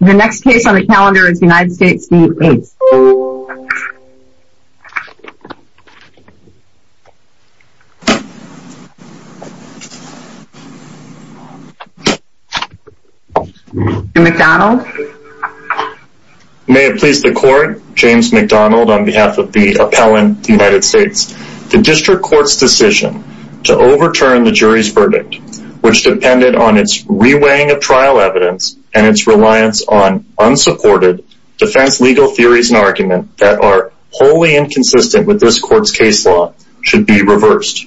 The next case on the calendar is United States v. Aytes. Mr. McDonald. May it please the court, James McDonald on behalf of the appellant, United States. The district court's decision to overturn the jury's verdict, which depended on its re-weighing of trial evidence and its reliance on unsupported defense legal theories and arguments that are wholly inconsistent with this court's case law, should be reversed.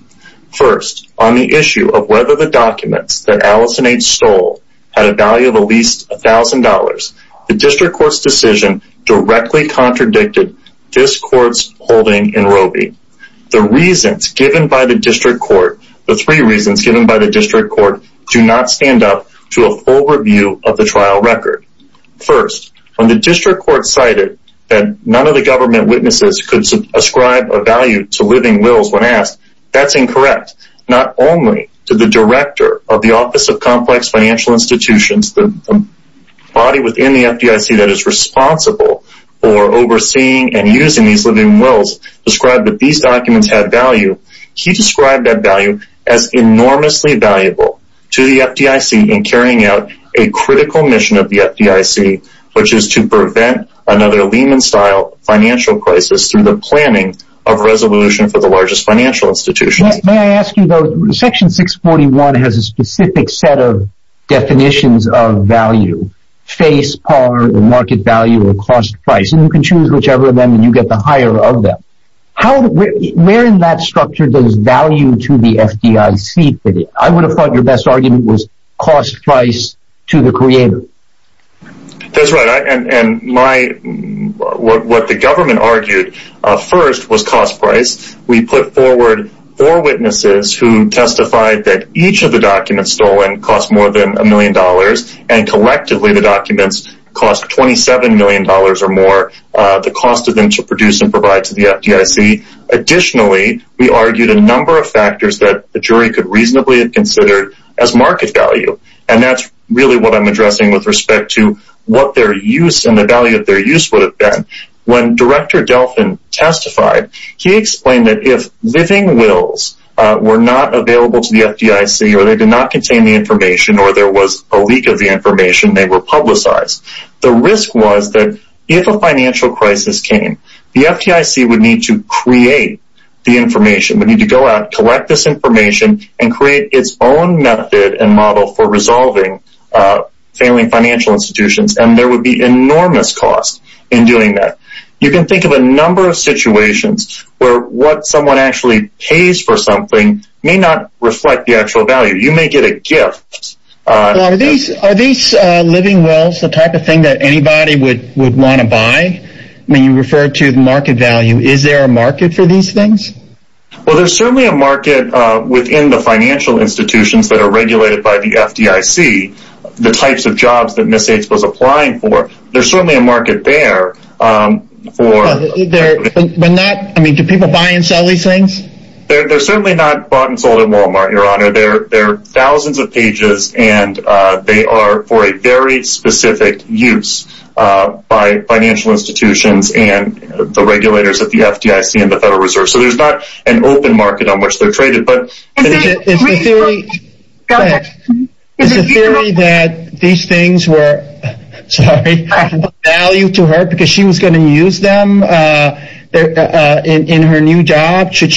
First, on the issue of whether the documents that Allison Aytes stole had a value of at least $1,000, the district court's decision directly contradicted this court's holding in Robey. The reasons given by the district court do not stand up to a full review of the trial record. First, when the district court cited that none of the government witnesses could ascribe a value to living wills when asked, that's incorrect. Not only did the director of the Office of Complex Financial Institutions, the body within the FDIC that is responsible for overseeing and using these living wills, describe that these documents had value, he described that value as enormously valuable to the FDIC in carrying out a critical mission of the FDIC, which is to prevent another Lehman-style financial crisis through the planning of a resolution for the largest financial institution. May I ask you, though, Section 641 has a specific set of definitions of value, face, par, market value, or cost price, and you can choose whichever of them and you get the higher of them. Where in that structure does value to the FDIC fit in? I would have thought your best argument was cost price to the creator. That's right, and what the government argued first was cost price. We put forward four witnesses who testified that each of the documents stolen cost more than a million dollars, and collectively the documents cost $27 million or more, the cost of them to produce and provide to the FDIC. Additionally, we argued a number of factors that the jury could reasonably have considered as market value, and that's really what I'm addressing with respect to what their use and the value of their use would have been. When Director Delfin testified, he explained that if living wills were not available to the FDIC or they did not contain the information or there was a leak of the information, they were publicized. The risk was that if a financial crisis came, the FDIC would need to create the information, would need to go out, collect this information, and create its own method and model for resolving failing financial institutions, and there would be enormous cost in doing that. You can think of a number of situations where what someone actually pays for something may not reflect the actual value. You may get a gift. Are these living wills the type of thing that anybody would want to buy? When you refer to market value, is there a market for these things? Well, there's certainly a market within the financial institutions that are regulated by the FDIC, the types of jobs that Ms. H was applying for. There's certainly a market there. Do people buy and sell these things? They're certainly not bought and sold at Walmart, Your Honor. They're thousands of pages, and they are for a very specific use by financial institutions and the regulators at the FDIC and the Federal Reserve. So there's not an open market on which they're traded. Is the theory that these things were of value to her because she was going to use them in her new job? Should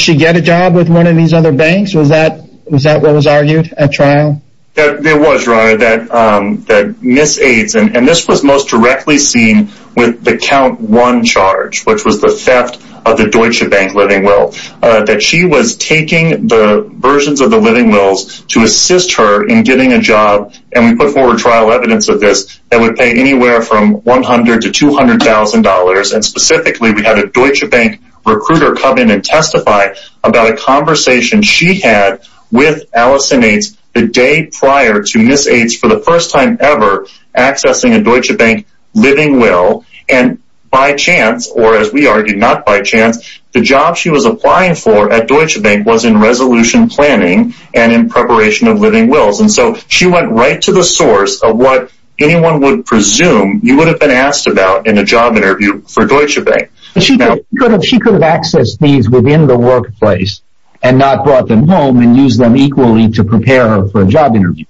she get a job with one of these other banks? Was that what was argued at trial? It was, Your Honor, that Ms. H, and this was most directly seen with the count one charge, which was the theft of the Deutsche Bank living will, that she was taking the versions of the living wills to assist her in getting a job. And we put forward trial evidence of this that would pay anywhere from $100,000 to $200,000. And specifically, we had a Deutsche Bank recruiter come in and testify about a conversation she had with Allison Ates the day prior to Ms. H, for the first time ever, accessing a Deutsche Bank living will. And by chance, or as we argued, not by chance, the job she was applying for at Deutsche Bank was in resolution planning and in preparation of living wills. And so she went right to the source of what anyone would presume you would have been asked about in a job interview for Deutsche Bank. She could have accessed these within the workplace and not brought them home and used them equally to prepare her for a job interview.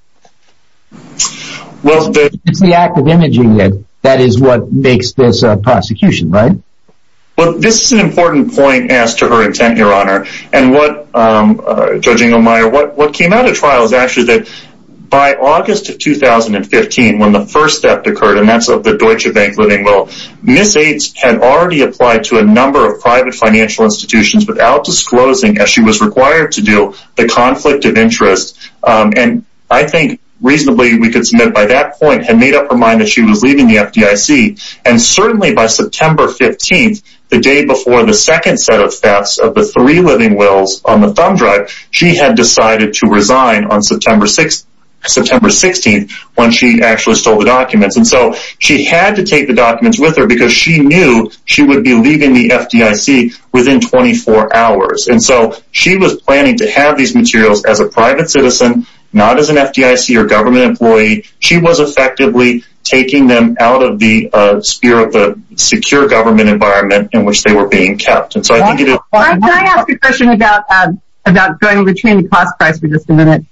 It's the act of imaging that is what makes this prosecution, right? Well, this is an important point as to her intent, Your Honor. And what, Judge Inglemeyer, what came out of trial is actually that by August of 2015, when the first theft occurred, and that's of the Deutsche Bank living will, Ms. H had already applied to a number of private financial institutions without disclosing, as she was required to do, the conflict of interest. And I think reasonably we could submit by that point had made up her mind that she was leaving the FDIC. And certainly by September 15th, the day before the second set of thefts of the three living wills on the thumb drive, she had decided to resign on September 16th when she actually stole the documents. And so she had to take the documents with her because she knew she would be leaving the FDIC within 24 hours. And so she was planning to have these materials as a private citizen, not as an FDIC or government employee. She was effectively taking them out of the sphere of the secure government environment in which they were being kept. Can I ask a question about going between the cost price for just a minute?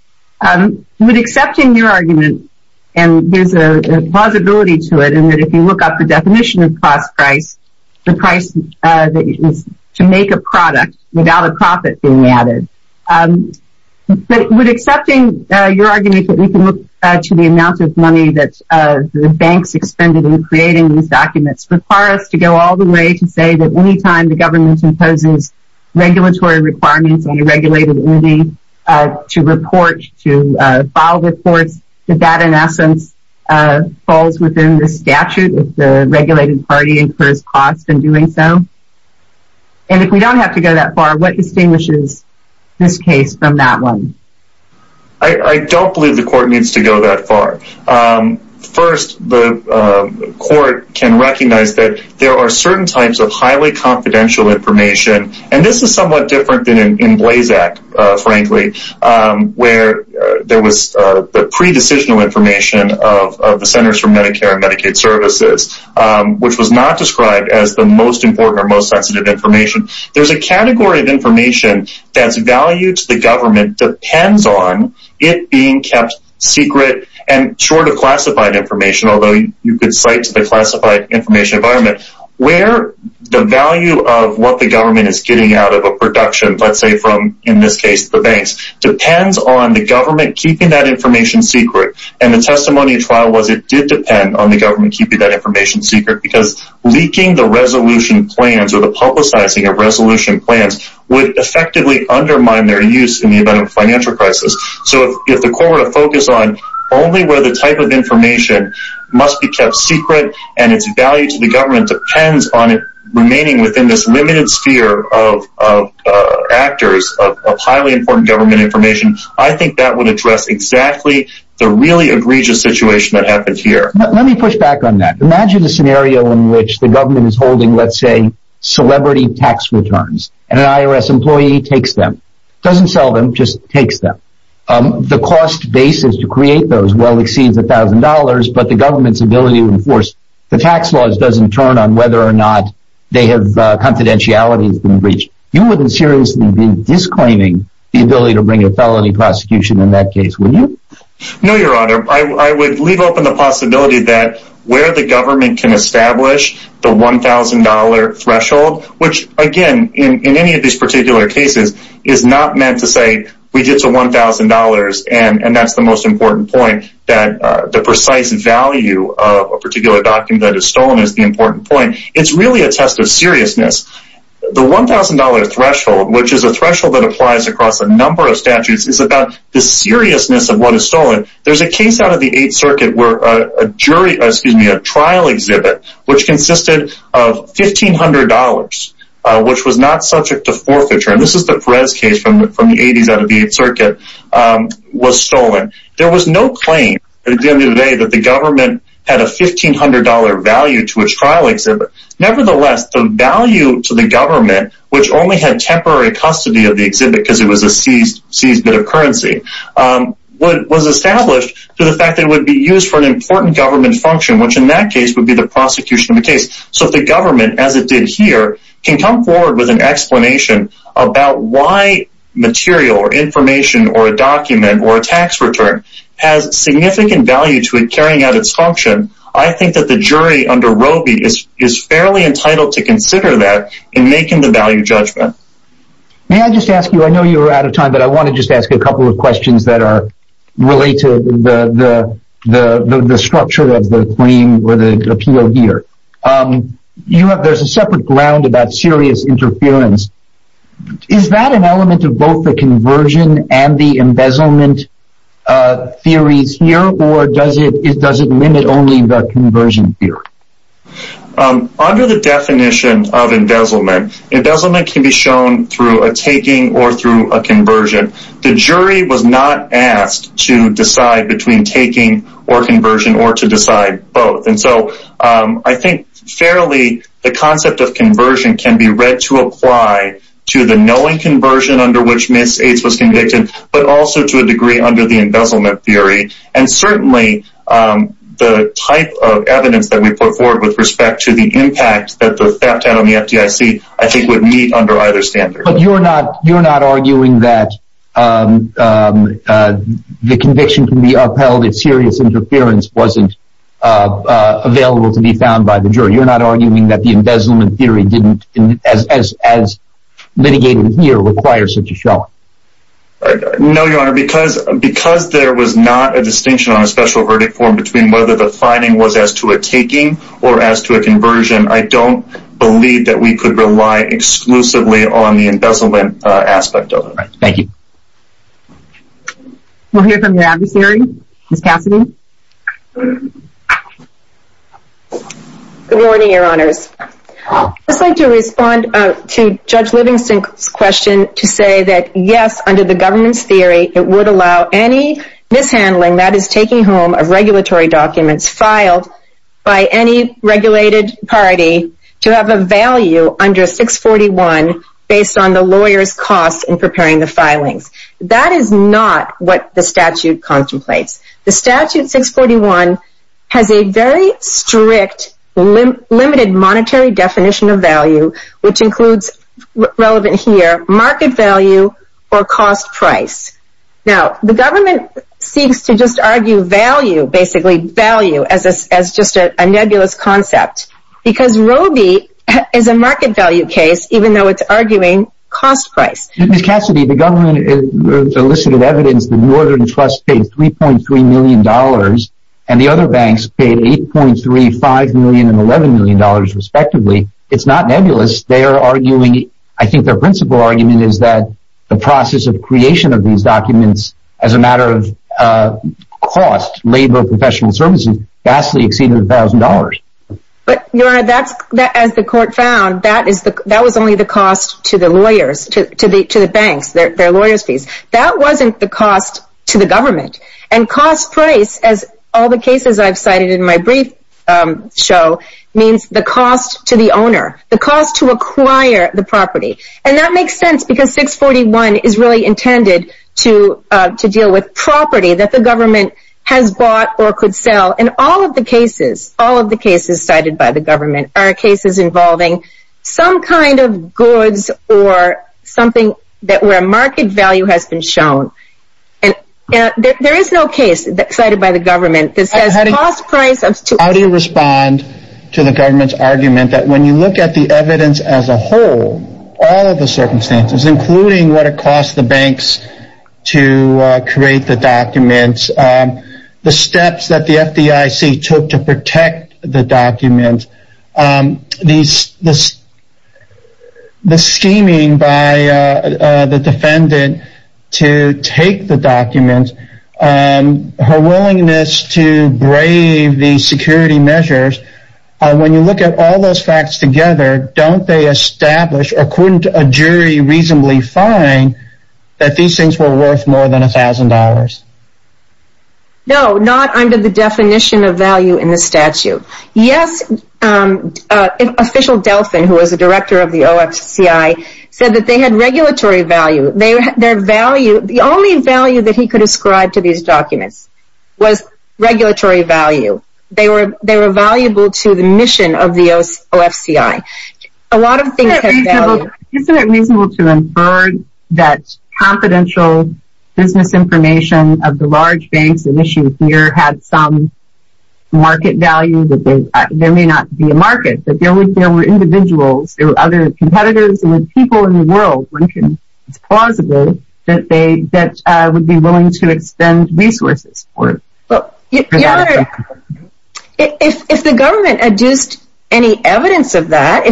With accepting your argument, and there's a plausibility to it, and that if you look up the definition of cost price, the price that is to make a product without a profit being added. But with accepting your argument that we can look to the amount of money that the banks expended in creating these documents require us to go all the way to say that any time the government imposes regulatory requirements on a regulated entity to report, to file reports, that that in essence falls within the statute if the regulated party incurs cost in doing so. And if we don't have to go that far, what distinguishes this case from that one? There's a category of information that's value to the government depends on it being kept secret and short of classified information, although you could cite to the classified information environment, where the value of what the government is getting out of a production. Let's say from, in this case, the banks, depends on the government keeping that information secret. And the testimony trial was it did depend on the government keeping that information secret because leaking the resolution plans or the publicizing of resolution plans would effectively undermine their use in the event of financial crisis. So if the court were to focus on only where the type of information must be kept secret and its value to the government depends on it remaining within this limited sphere of actors of highly important government information, I think that would address exactly the really egregious situation that happened here. Let me push back on that. Imagine a scenario in which the government is holding, let's say, celebrity tax returns, and an IRS employee takes them, doesn't sell them, just takes them. The cost basis to create those well exceeds $1,000, but the government's ability to enforce the tax laws doesn't turn on whether or not they have confidentiality has been breached. You wouldn't seriously be disclaiming the ability to bring a felony prosecution in that case, would you? No, Your Honor. I would leave open the possibility that where the government can establish the $1,000 threshold, which again, in any of these particular cases, is not meant to say we did to $1,000 and that's the most important point that the precise value of a particular document that is stolen is the important point. It's really a test of seriousness. The $1,000 threshold, which is a threshold that applies across a number of statutes, is about the seriousness of what is stolen. There's a case out of the 8th Circuit where a trial exhibit, which consisted of $1,500, which was not subject to forfeiture, and this is the Perez case from the 80s out of the 8th Circuit, was stolen. There was no claim at the end of the day that the government had a $1,500 value to a trial exhibit. Nevertheless, the value to the government, which only had temporary custody of the exhibit because it was a seized bit of currency, was established through the fact that it would be used for an important government function, which in that case would be the prosecution of the case. So if the government, as it did here, can come forward with an explanation about why material or information or a document or a tax return has significant value to it carrying out its function, I think that the jury under Robey is fairly entitled to consider that in making the value judgment. May I just ask you, I know you're out of time, but I want to just ask a couple of questions that are related to the structure of the appeal here. There's a separate ground about serious interference. Is that an element of both the conversion and the embezzlement theories here, or does it limit only the conversion theory? Under the definition of embezzlement, embezzlement can be shown through a taking or through a conversion. The jury was not asked to decide between taking or conversion or to decide both. And so I think fairly the concept of conversion can be read to apply to the knowing conversion under which Ms. Eights was convicted, but also to a degree under the embezzlement theory. And certainly the type of evidence that we put forward with respect to the impact that the theft had on the FDIC, I think would meet under either standard. But you're not arguing that the conviction can be upheld if serious interference wasn't available to be found by the jury. You're not arguing that the embezzlement theory didn't, as litigated here, require such a showing? No, Your Honor, because there was not a distinction on a special verdict form between whether the finding was as to a taking or as to a conversion, I don't believe that we could rely exclusively on the embezzlement aspect of it. Thank you. We'll hear from your adversary, Ms. Cassidy. Good morning, Your Honors. I'd just like to respond to Judge Livingston's question to say that yes, under the governance theory, it would allow any mishandling that is taking home of regulatory documents filed by any regulated party to have a value under 641 based on the lawyer's costs in preparing the filings. That is not what the statute contemplates. The Statute 641 has a very strict, limited monetary definition of value, which includes, relevant here, market value or cost price. Now, the government seeks to just argue value, basically value, as just a nebulous concept, because Roe v. is a market value case, even though it's arguing cost price. Ms. Cassidy, the government elicited evidence that Northern Trust paid $3.3 million and the other banks paid $8.3, $5 million and $11 million, respectively. It's not nebulous. I think their principal argument is that the process of creation of these documents as a matter of cost, labor, professional services, vastly exceeded $1,000. Your Honor, as the court found, that was only the cost to the lawyers, to the banks, their lawyer's fees. That wasn't the cost to the government. Cost price, as all the cases I've cited in my brief show, means the cost to the owner, the cost to acquire the property. And that makes sense, because 641 is really intended to deal with property that the government has bought or could sell. In all of the cases, all of the cases cited by the government are cases involving some kind of goods or something where market value has been shown. There is no case cited by the government that says cost price... How do you respond to the government's argument that when you look at the evidence as a whole, all of the circumstances, including what it costs the banks to create the documents, the steps that the FDIC took to protect the documents, the scheming by the defendant to take the documents, her willingness to brave the security measures, when you look at all of those facts together, couldn't a jury reasonably find that these things were worth more than $1,000? No, not under the definition of value in the statute. Yes, Official Delphin, who was the director of the OFCI, said that they had regulatory value. The only value that he could ascribe to these documents was regulatory value. They were valuable to the mission of the OFCI. Isn't it reasonable to infer that confidential business information of the large banks and issues here had some market value? There may not be a market, but there were individuals, there were other competitors, there were people in the world. It's plausible that they would be willing to expend resources. Your Honor, if the government adduced any evidence of that,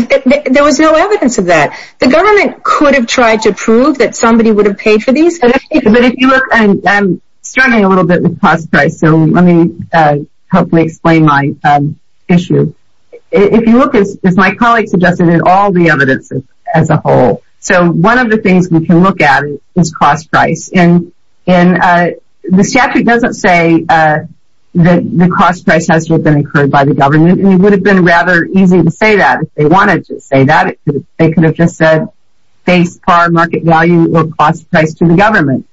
there was no evidence of that. The government could have tried to prove that somebody would have paid for these. I'm struggling a little bit with cost price, so let me hopefully explain my issue. If you look, as my colleague suggested, at all the evidence as a whole, one of the things we can look at is cost price. The statute doesn't say that the cost price has to have been incurred by the government. It would have been rather easy to say that. If they wanted to say that, they could have just said, face par market value or cost price to the government.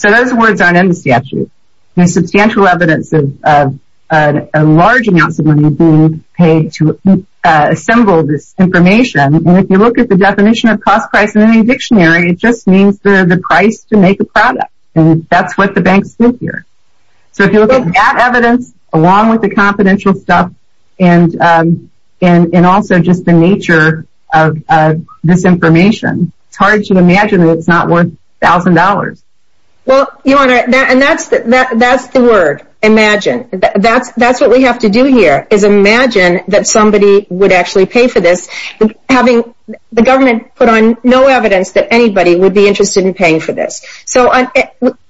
Those words aren't in the statute. There's substantial evidence of a large amount of money being paid to assemble this information. If you look at the definition of cost price in any dictionary, it just means the price to make a product. That's what the banks did here. If you look at that evidence, along with the confidential stuff, and also just the nature of this information, it's hard to imagine that it's not worth $1,000. Your Honor, that's the word, imagine. That's what we have to do here, is imagine that somebody would actually pay for this, having the government put on no evidence that anybody would be interested in paying for this.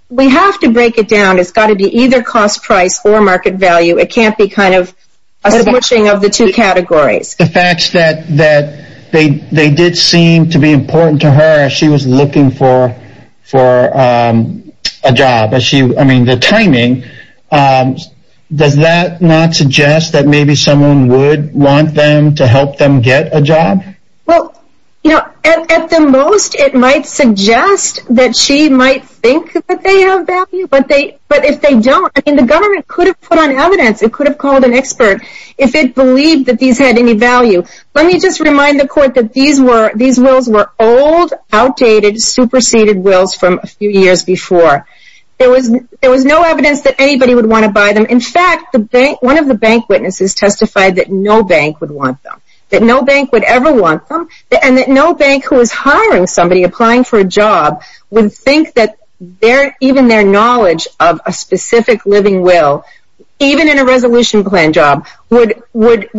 We have to break it down. It's got to be either cost price or market value. It can't be a squishing of the two categories. The fact is that they did seem to be important to her. She was looking for a job. The timing, does that not suggest that maybe someone would want them to help them get a job? At the most, it might suggest that she might think that they have value. But if they don't, the government could have put on evidence. It could have called an expert if it believed that these had any value. Let me just remind the Court that these wills were old, outdated, superseded wills from a few years before. There was no evidence that anybody would want to buy them. In fact, one of the bank witnesses testified that no bank would want them. That no bank would ever want them. And that no bank who was hiring somebody, applying for a job, would think that even their knowledge of a specific living will, even in a resolution plan job, would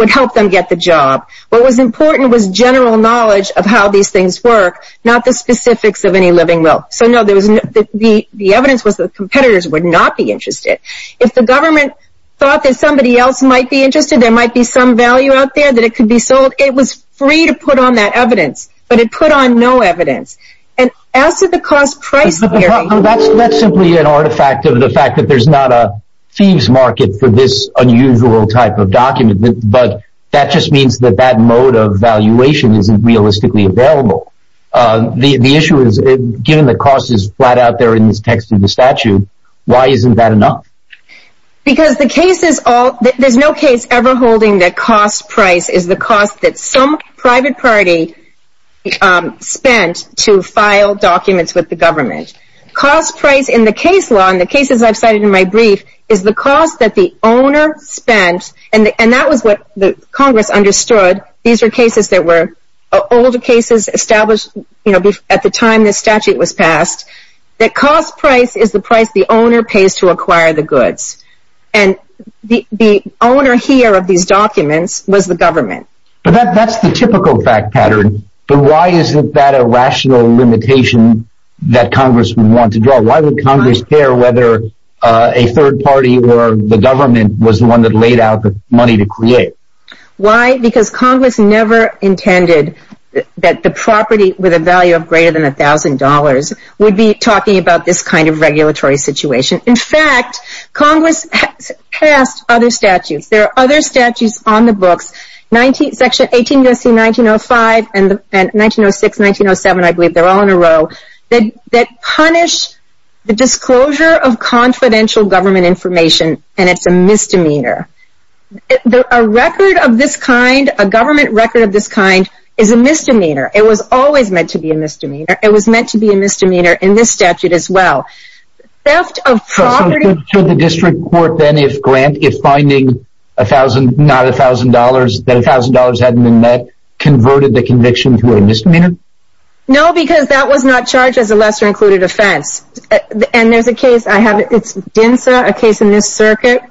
help them get the job. What was important was general knowledge of how these things work, not the specifics of any living will. So, no, the evidence was that competitors would not be interested. If the government thought that somebody else might be interested, there might be some value out there that it could be sold, it was free to put on that evidence. But it put on no evidence. And as to the cost-price theory... That's simply an artifact of the fact that there's not a thieves' market for this unusual type of document. But that just means that that mode of valuation isn't realistically available. The issue is, given the cost is flat out there in the text of the statute, why isn't that enough? Because the case is all... There's no case ever holding that cost-price is the cost that some private party spent to file documents with the government. Cost-price in the case law, in the cases I've cited in my brief, is the cost that the owner spent... And that was what Congress understood. These are cases that were older cases established at the time this statute was passed. That cost-price is the price the owner pays to acquire the goods. And the owner here of these documents was the government. But that's the typical fact pattern. But why isn't that a rational limitation that Congress would want to draw? Why would Congress care whether a third party or the government was the one that laid out the money to create? Why? Because Congress never intended that the property with a value of greater than $1,000 would be talking about this kind of regulatory situation. In fact, Congress has passed other statutes. There are other statutes on the books, Section 180C, 1905, 1906, 1907, I believe, they're all in a row, that punish the disclosure of confidential government information, and it's a misdemeanor. A record of this kind, a government record of this kind, is a misdemeanor. It was always meant to be a misdemeanor. It was meant to be a misdemeanor in this statute as well. Theft of property... So should the district court then, if finding not $1,000, that $1,000 hadn't been met, converted the conviction to a misdemeanor? No, because that was not charged as a lesser-included offense. And there's a case, I have it, it's DINSA, a case in this circuit,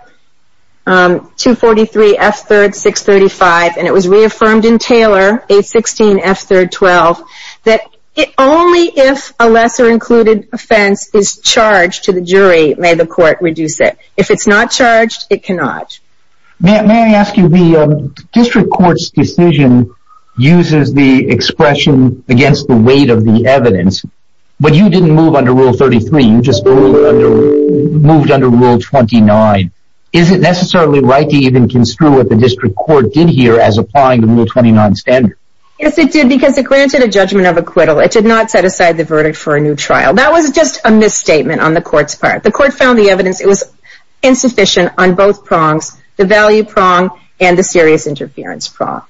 243F3-635, and it was reaffirmed in Taylor, 816F3-12, that only if a lesser-included offense is charged to the jury may the court reduce it. If it's not charged, it cannot. May I ask you, the district court's decision uses the expression against the weight of the evidence, but you didn't move under Rule 33, you just moved under Rule 29. Is it necessarily right to even construe what the district court did here as applying the Rule 29 standard? Yes, it did, because it granted a judgment of acquittal. It did not set aside the verdict for a new trial. That was just a misstatement on the court's part. The court found the evidence was insufficient on both prongs, the value prong and the serious interference prong.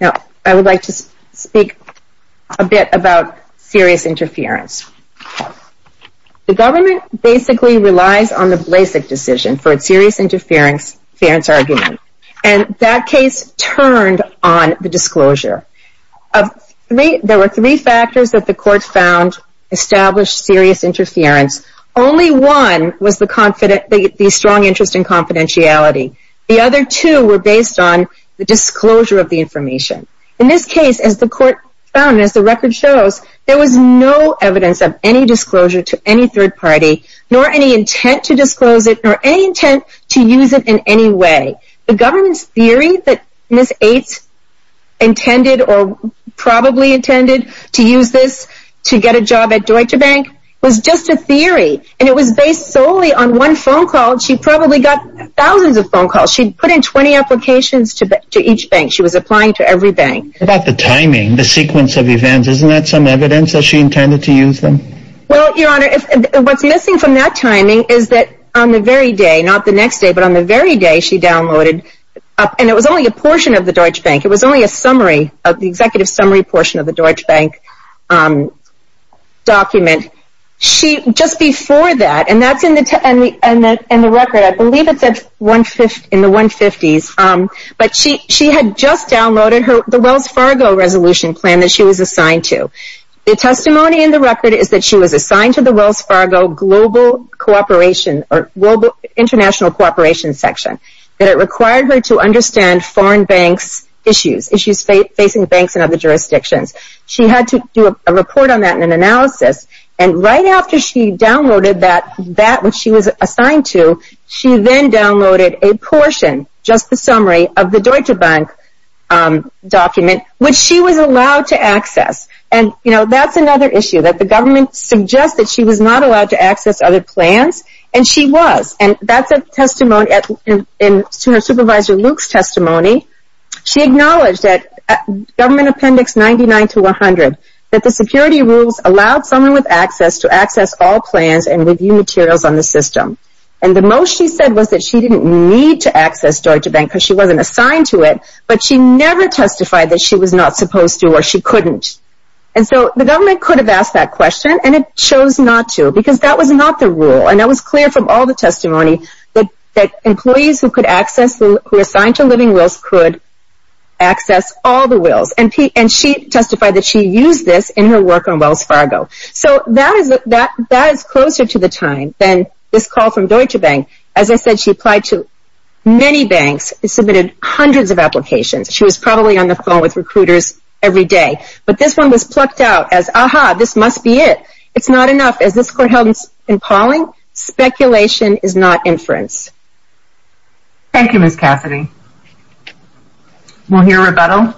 Now, I would like to speak a bit about serious interference. The government basically relies on the Blasek decision for a serious interference argument, and that case turned on the disclosure. There were three factors that the court found established serious interference. Only one was the strong interest in confidentiality. The other two were based on the disclosure of the information. In this case, as the court found, as the record shows, there was no evidence of any disclosure to any third party, nor any intent to disclose it, nor any intent to use it in any way. The government's theory that Ms. Eights intended or probably intended to use this to get a job at Deutsche Bank was just a theory, and it was based solely on one phone call. She probably got thousands of phone calls. She put in 20 applications to each bank. She was applying to every bank. What about the timing, the sequence of events? Isn't that some evidence that she intended to use them? Well, Your Honor, what's missing from that timing is that on the very day, not the next day, but on the very day she downloaded, and it was only a portion of the Deutsche Bank, it was only a summary, the executive summary portion of the Deutsche Bank document. Just before that, and that's in the record, I believe it said in the 150s, but she had just downloaded the Wells Fargo Resolution Plan that she was assigned to. The testimony in the record is that she was assigned to the Wells Fargo Global International Cooperation Section, that it required her to understand foreign banks' issues, issues facing banks in other jurisdictions. She had to do a report on that and an analysis, and right after she downloaded that, which she was assigned to, she then downloaded a portion, just the summary, of the Deutsche Bank document, which she was allowed to access. That's another issue, that the government suggested she was not allowed to access other plans, and she was. That's a testimony to her supervisor Luke's testimony. She acknowledged that Government Appendix 99 to 100, that the security rules allowed someone with access to access all plans and review materials on the system. The most she said was that she didn't need to access Deutsche Bank because she wasn't assigned to it, but she never testified that she was not supposed to or she couldn't. The government could have asked that question, and it chose not to because that was not the rule. It was clear from all the testimony that employees who were assigned to living wills could access all the wills. She testified that she used this in her work on Wells Fargo. That is closer to the time than this call from Deutsche Bank. As I said, she applied to many banks and submitted hundreds of applications. She was probably on the phone with recruiters every day, but this one was plucked out as, Aha, this must be it. It's not enough. As this court held in Pauling, speculation is not inference. Thank you, Ms. Cassidy. We'll hear rebuttal.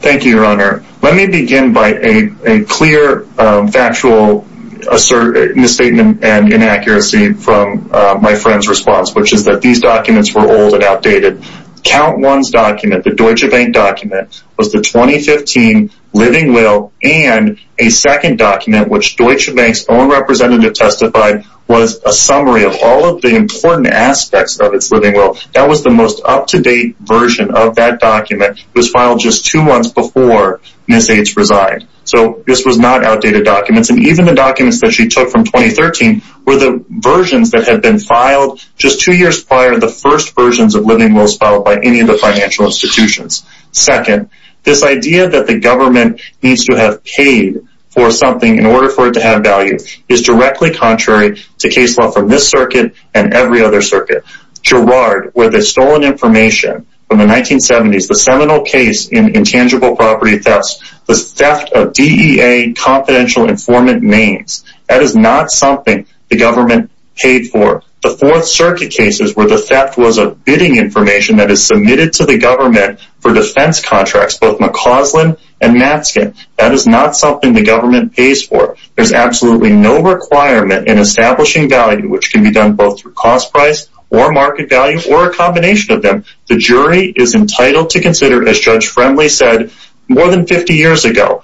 Thank you, Your Honor. Let me begin by a clear factual misstatement and inaccuracy from my friend's response, which is that these documents were old and outdated. Count One's document, the Deutsche Bank document, was the 2015 living will, and a second document, which Deutsche Bank's own representative testified, was a summary of all of the important aspects of its living will. That was the most up-to-date version of that document. It was filed just two months before Ms. H. resigned, so this was not outdated documents. Even the documents that she took from 2013 were the versions that had been filed just two years prior, and they were the first versions of living wills filed by any of the financial institutions. Second, this idea that the government needs to have paid for something in order for it to have value is directly contrary to case law from this circuit and every other circuit. Girard, where they've stolen information from the 1970s, the seminal case in intangible property thefts, the theft of DEA confidential informant names, that is not something the government paid for. The Fourth Circuit cases where the theft was of bidding information that is submitted to the government for defense contracts, both McCausland and Matzkin, that is not something the government pays for. There's absolutely no requirement in establishing value, which can be done both through cost price or market value or a combination of them. The jury is entitled to consider, as Judge Fremley said more than 50 years ago,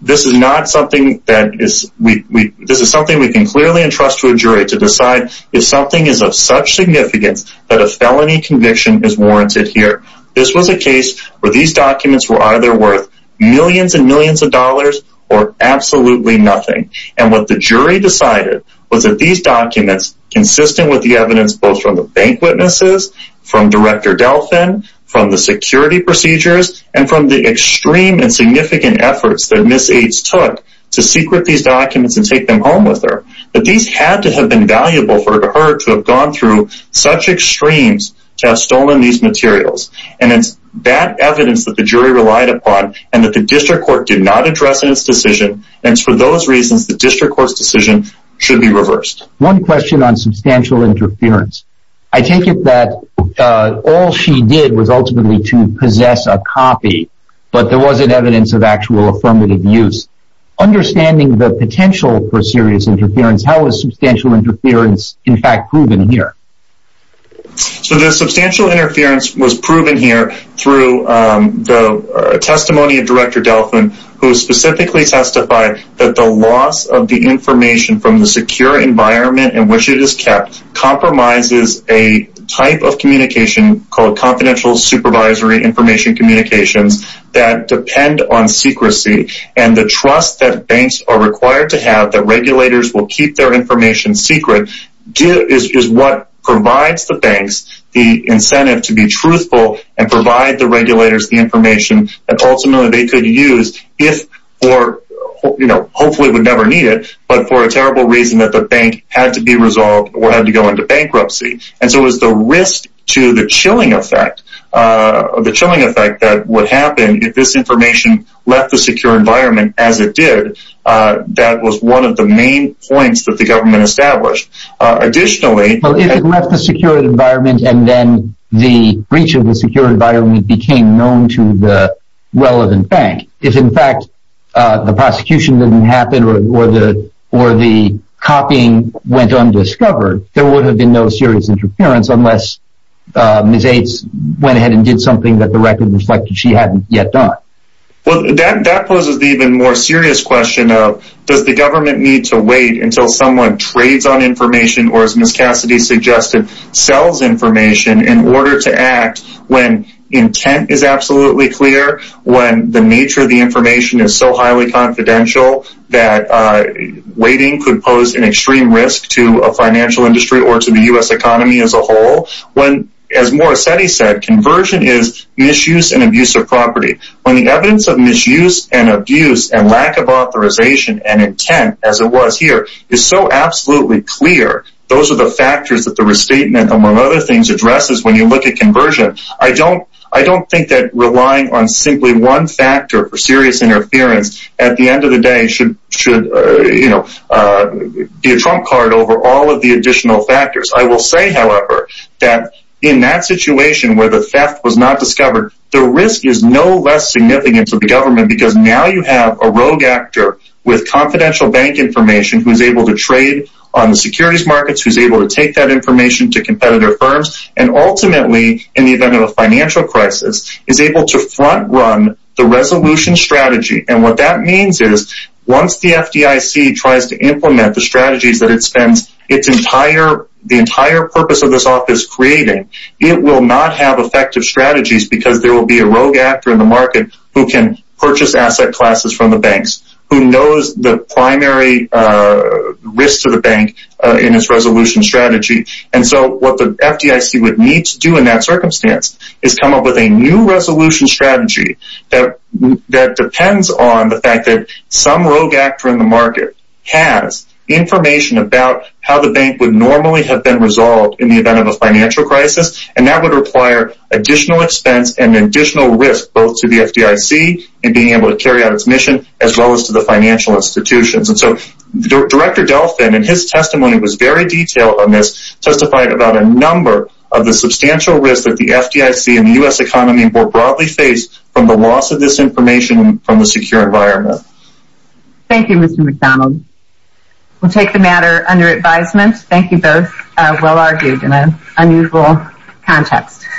this is something we can clearly entrust to a jury to decide if something is of such significance that a felony conviction is warranted here. This was a case where these documents were either worth millions and millions of dollars or absolutely nothing. And what the jury decided was that these documents, consistent with the evidence both from the bank witnesses, from Director Delfin, from the security procedures, and from the extreme and significant efforts that Ms. Yates took to secret these documents and take them home with her, that these had to have been valuable for her to have gone through such extremes to have stolen these materials. And it's that evidence that the jury relied upon and that the district court did not address in its decision, and for those reasons the district court's decision should be reversed. One question on substantial interference. I take it that all she did was ultimately to possess a copy, but there wasn't evidence of actual affirmative use. Understanding the potential for serious interference, how is substantial interference in fact proven here? So the substantial interference was proven here through the testimony of Director Delfin who specifically testified that the loss of the information from the secure environment in which it is kept compromises a type of communication called confidential supervisory information communications that depend on secrecy and the trust that banks are required to have that regulators will keep their information secret is what provides the banks the incentive to be truthful and provide the regulators the information that ultimately they could use if or hopefully would never need it, but for a terrible reason that the bank had to be resolved or had to go into bankruptcy. And so it was the risk to the chilling effect that would happen if this information left the secure environment as it did. That was one of the main points that the government established. Additionally... Well, if it left the secure environment and then the breach of the secure environment became known to the relevant bank, if in fact the prosecution didn't happen or the copying went undiscovered, there would have been no serious interference unless Ms. Ates went ahead and did something that the record reflected she hadn't yet done. Well, that poses the even more serious question of does the government need to wait until someone trades on information or as Ms. Cassidy suggested, sells information in order to act when intent is absolutely clear, when the nature of the information is so highly confidential that waiting could pose an extreme risk to a financial industry or to the U.S. economy as a whole. As Morissetti said, conversion is misuse and abuse of property. When the evidence of misuse and abuse and lack of authorization and intent as it was here is so absolutely clear, those are the factors that the restatement among other things addresses when you look at conversion. I don't think that relying on simply one factor for serious interference at the end of the day should be a trump card over all of the additional factors. I will say, however, that in that situation where the theft was not discovered, the risk is no less significant to the government because now you have a rogue actor with confidential bank information who is able to trade on the securities markets, who is able to take that information to competitor firms and ultimately, in the event of a financial crisis, is able to front run the resolution strategy. What that means is once the FDIC tries to implement the strategies that it spends the entire purpose of this office creating, it will not have effective strategies because there will be a rogue actor in the market who can purchase asset classes from the banks, who knows the primary risk to the bank in its resolution strategy. What the FDIC would need to do in that circumstance is come up with a new resolution strategy that depends on the fact that some rogue actor in the market has information about how the bank would normally have been resolved in the event of a financial crisis and that would require additional expense and additional risk both to the FDIC and being able to carry out its mission as well as to the financial institutions. Director Delfin in his testimony was very detailed on this, testified about a number of the substantial risk that the FDIC and the U.S. economy will broadly face from the loss of this information from the secure environment. Thank you, Mr. McDonald. We will take the matter under advisement. Thank you both. Well argued in an unusual context.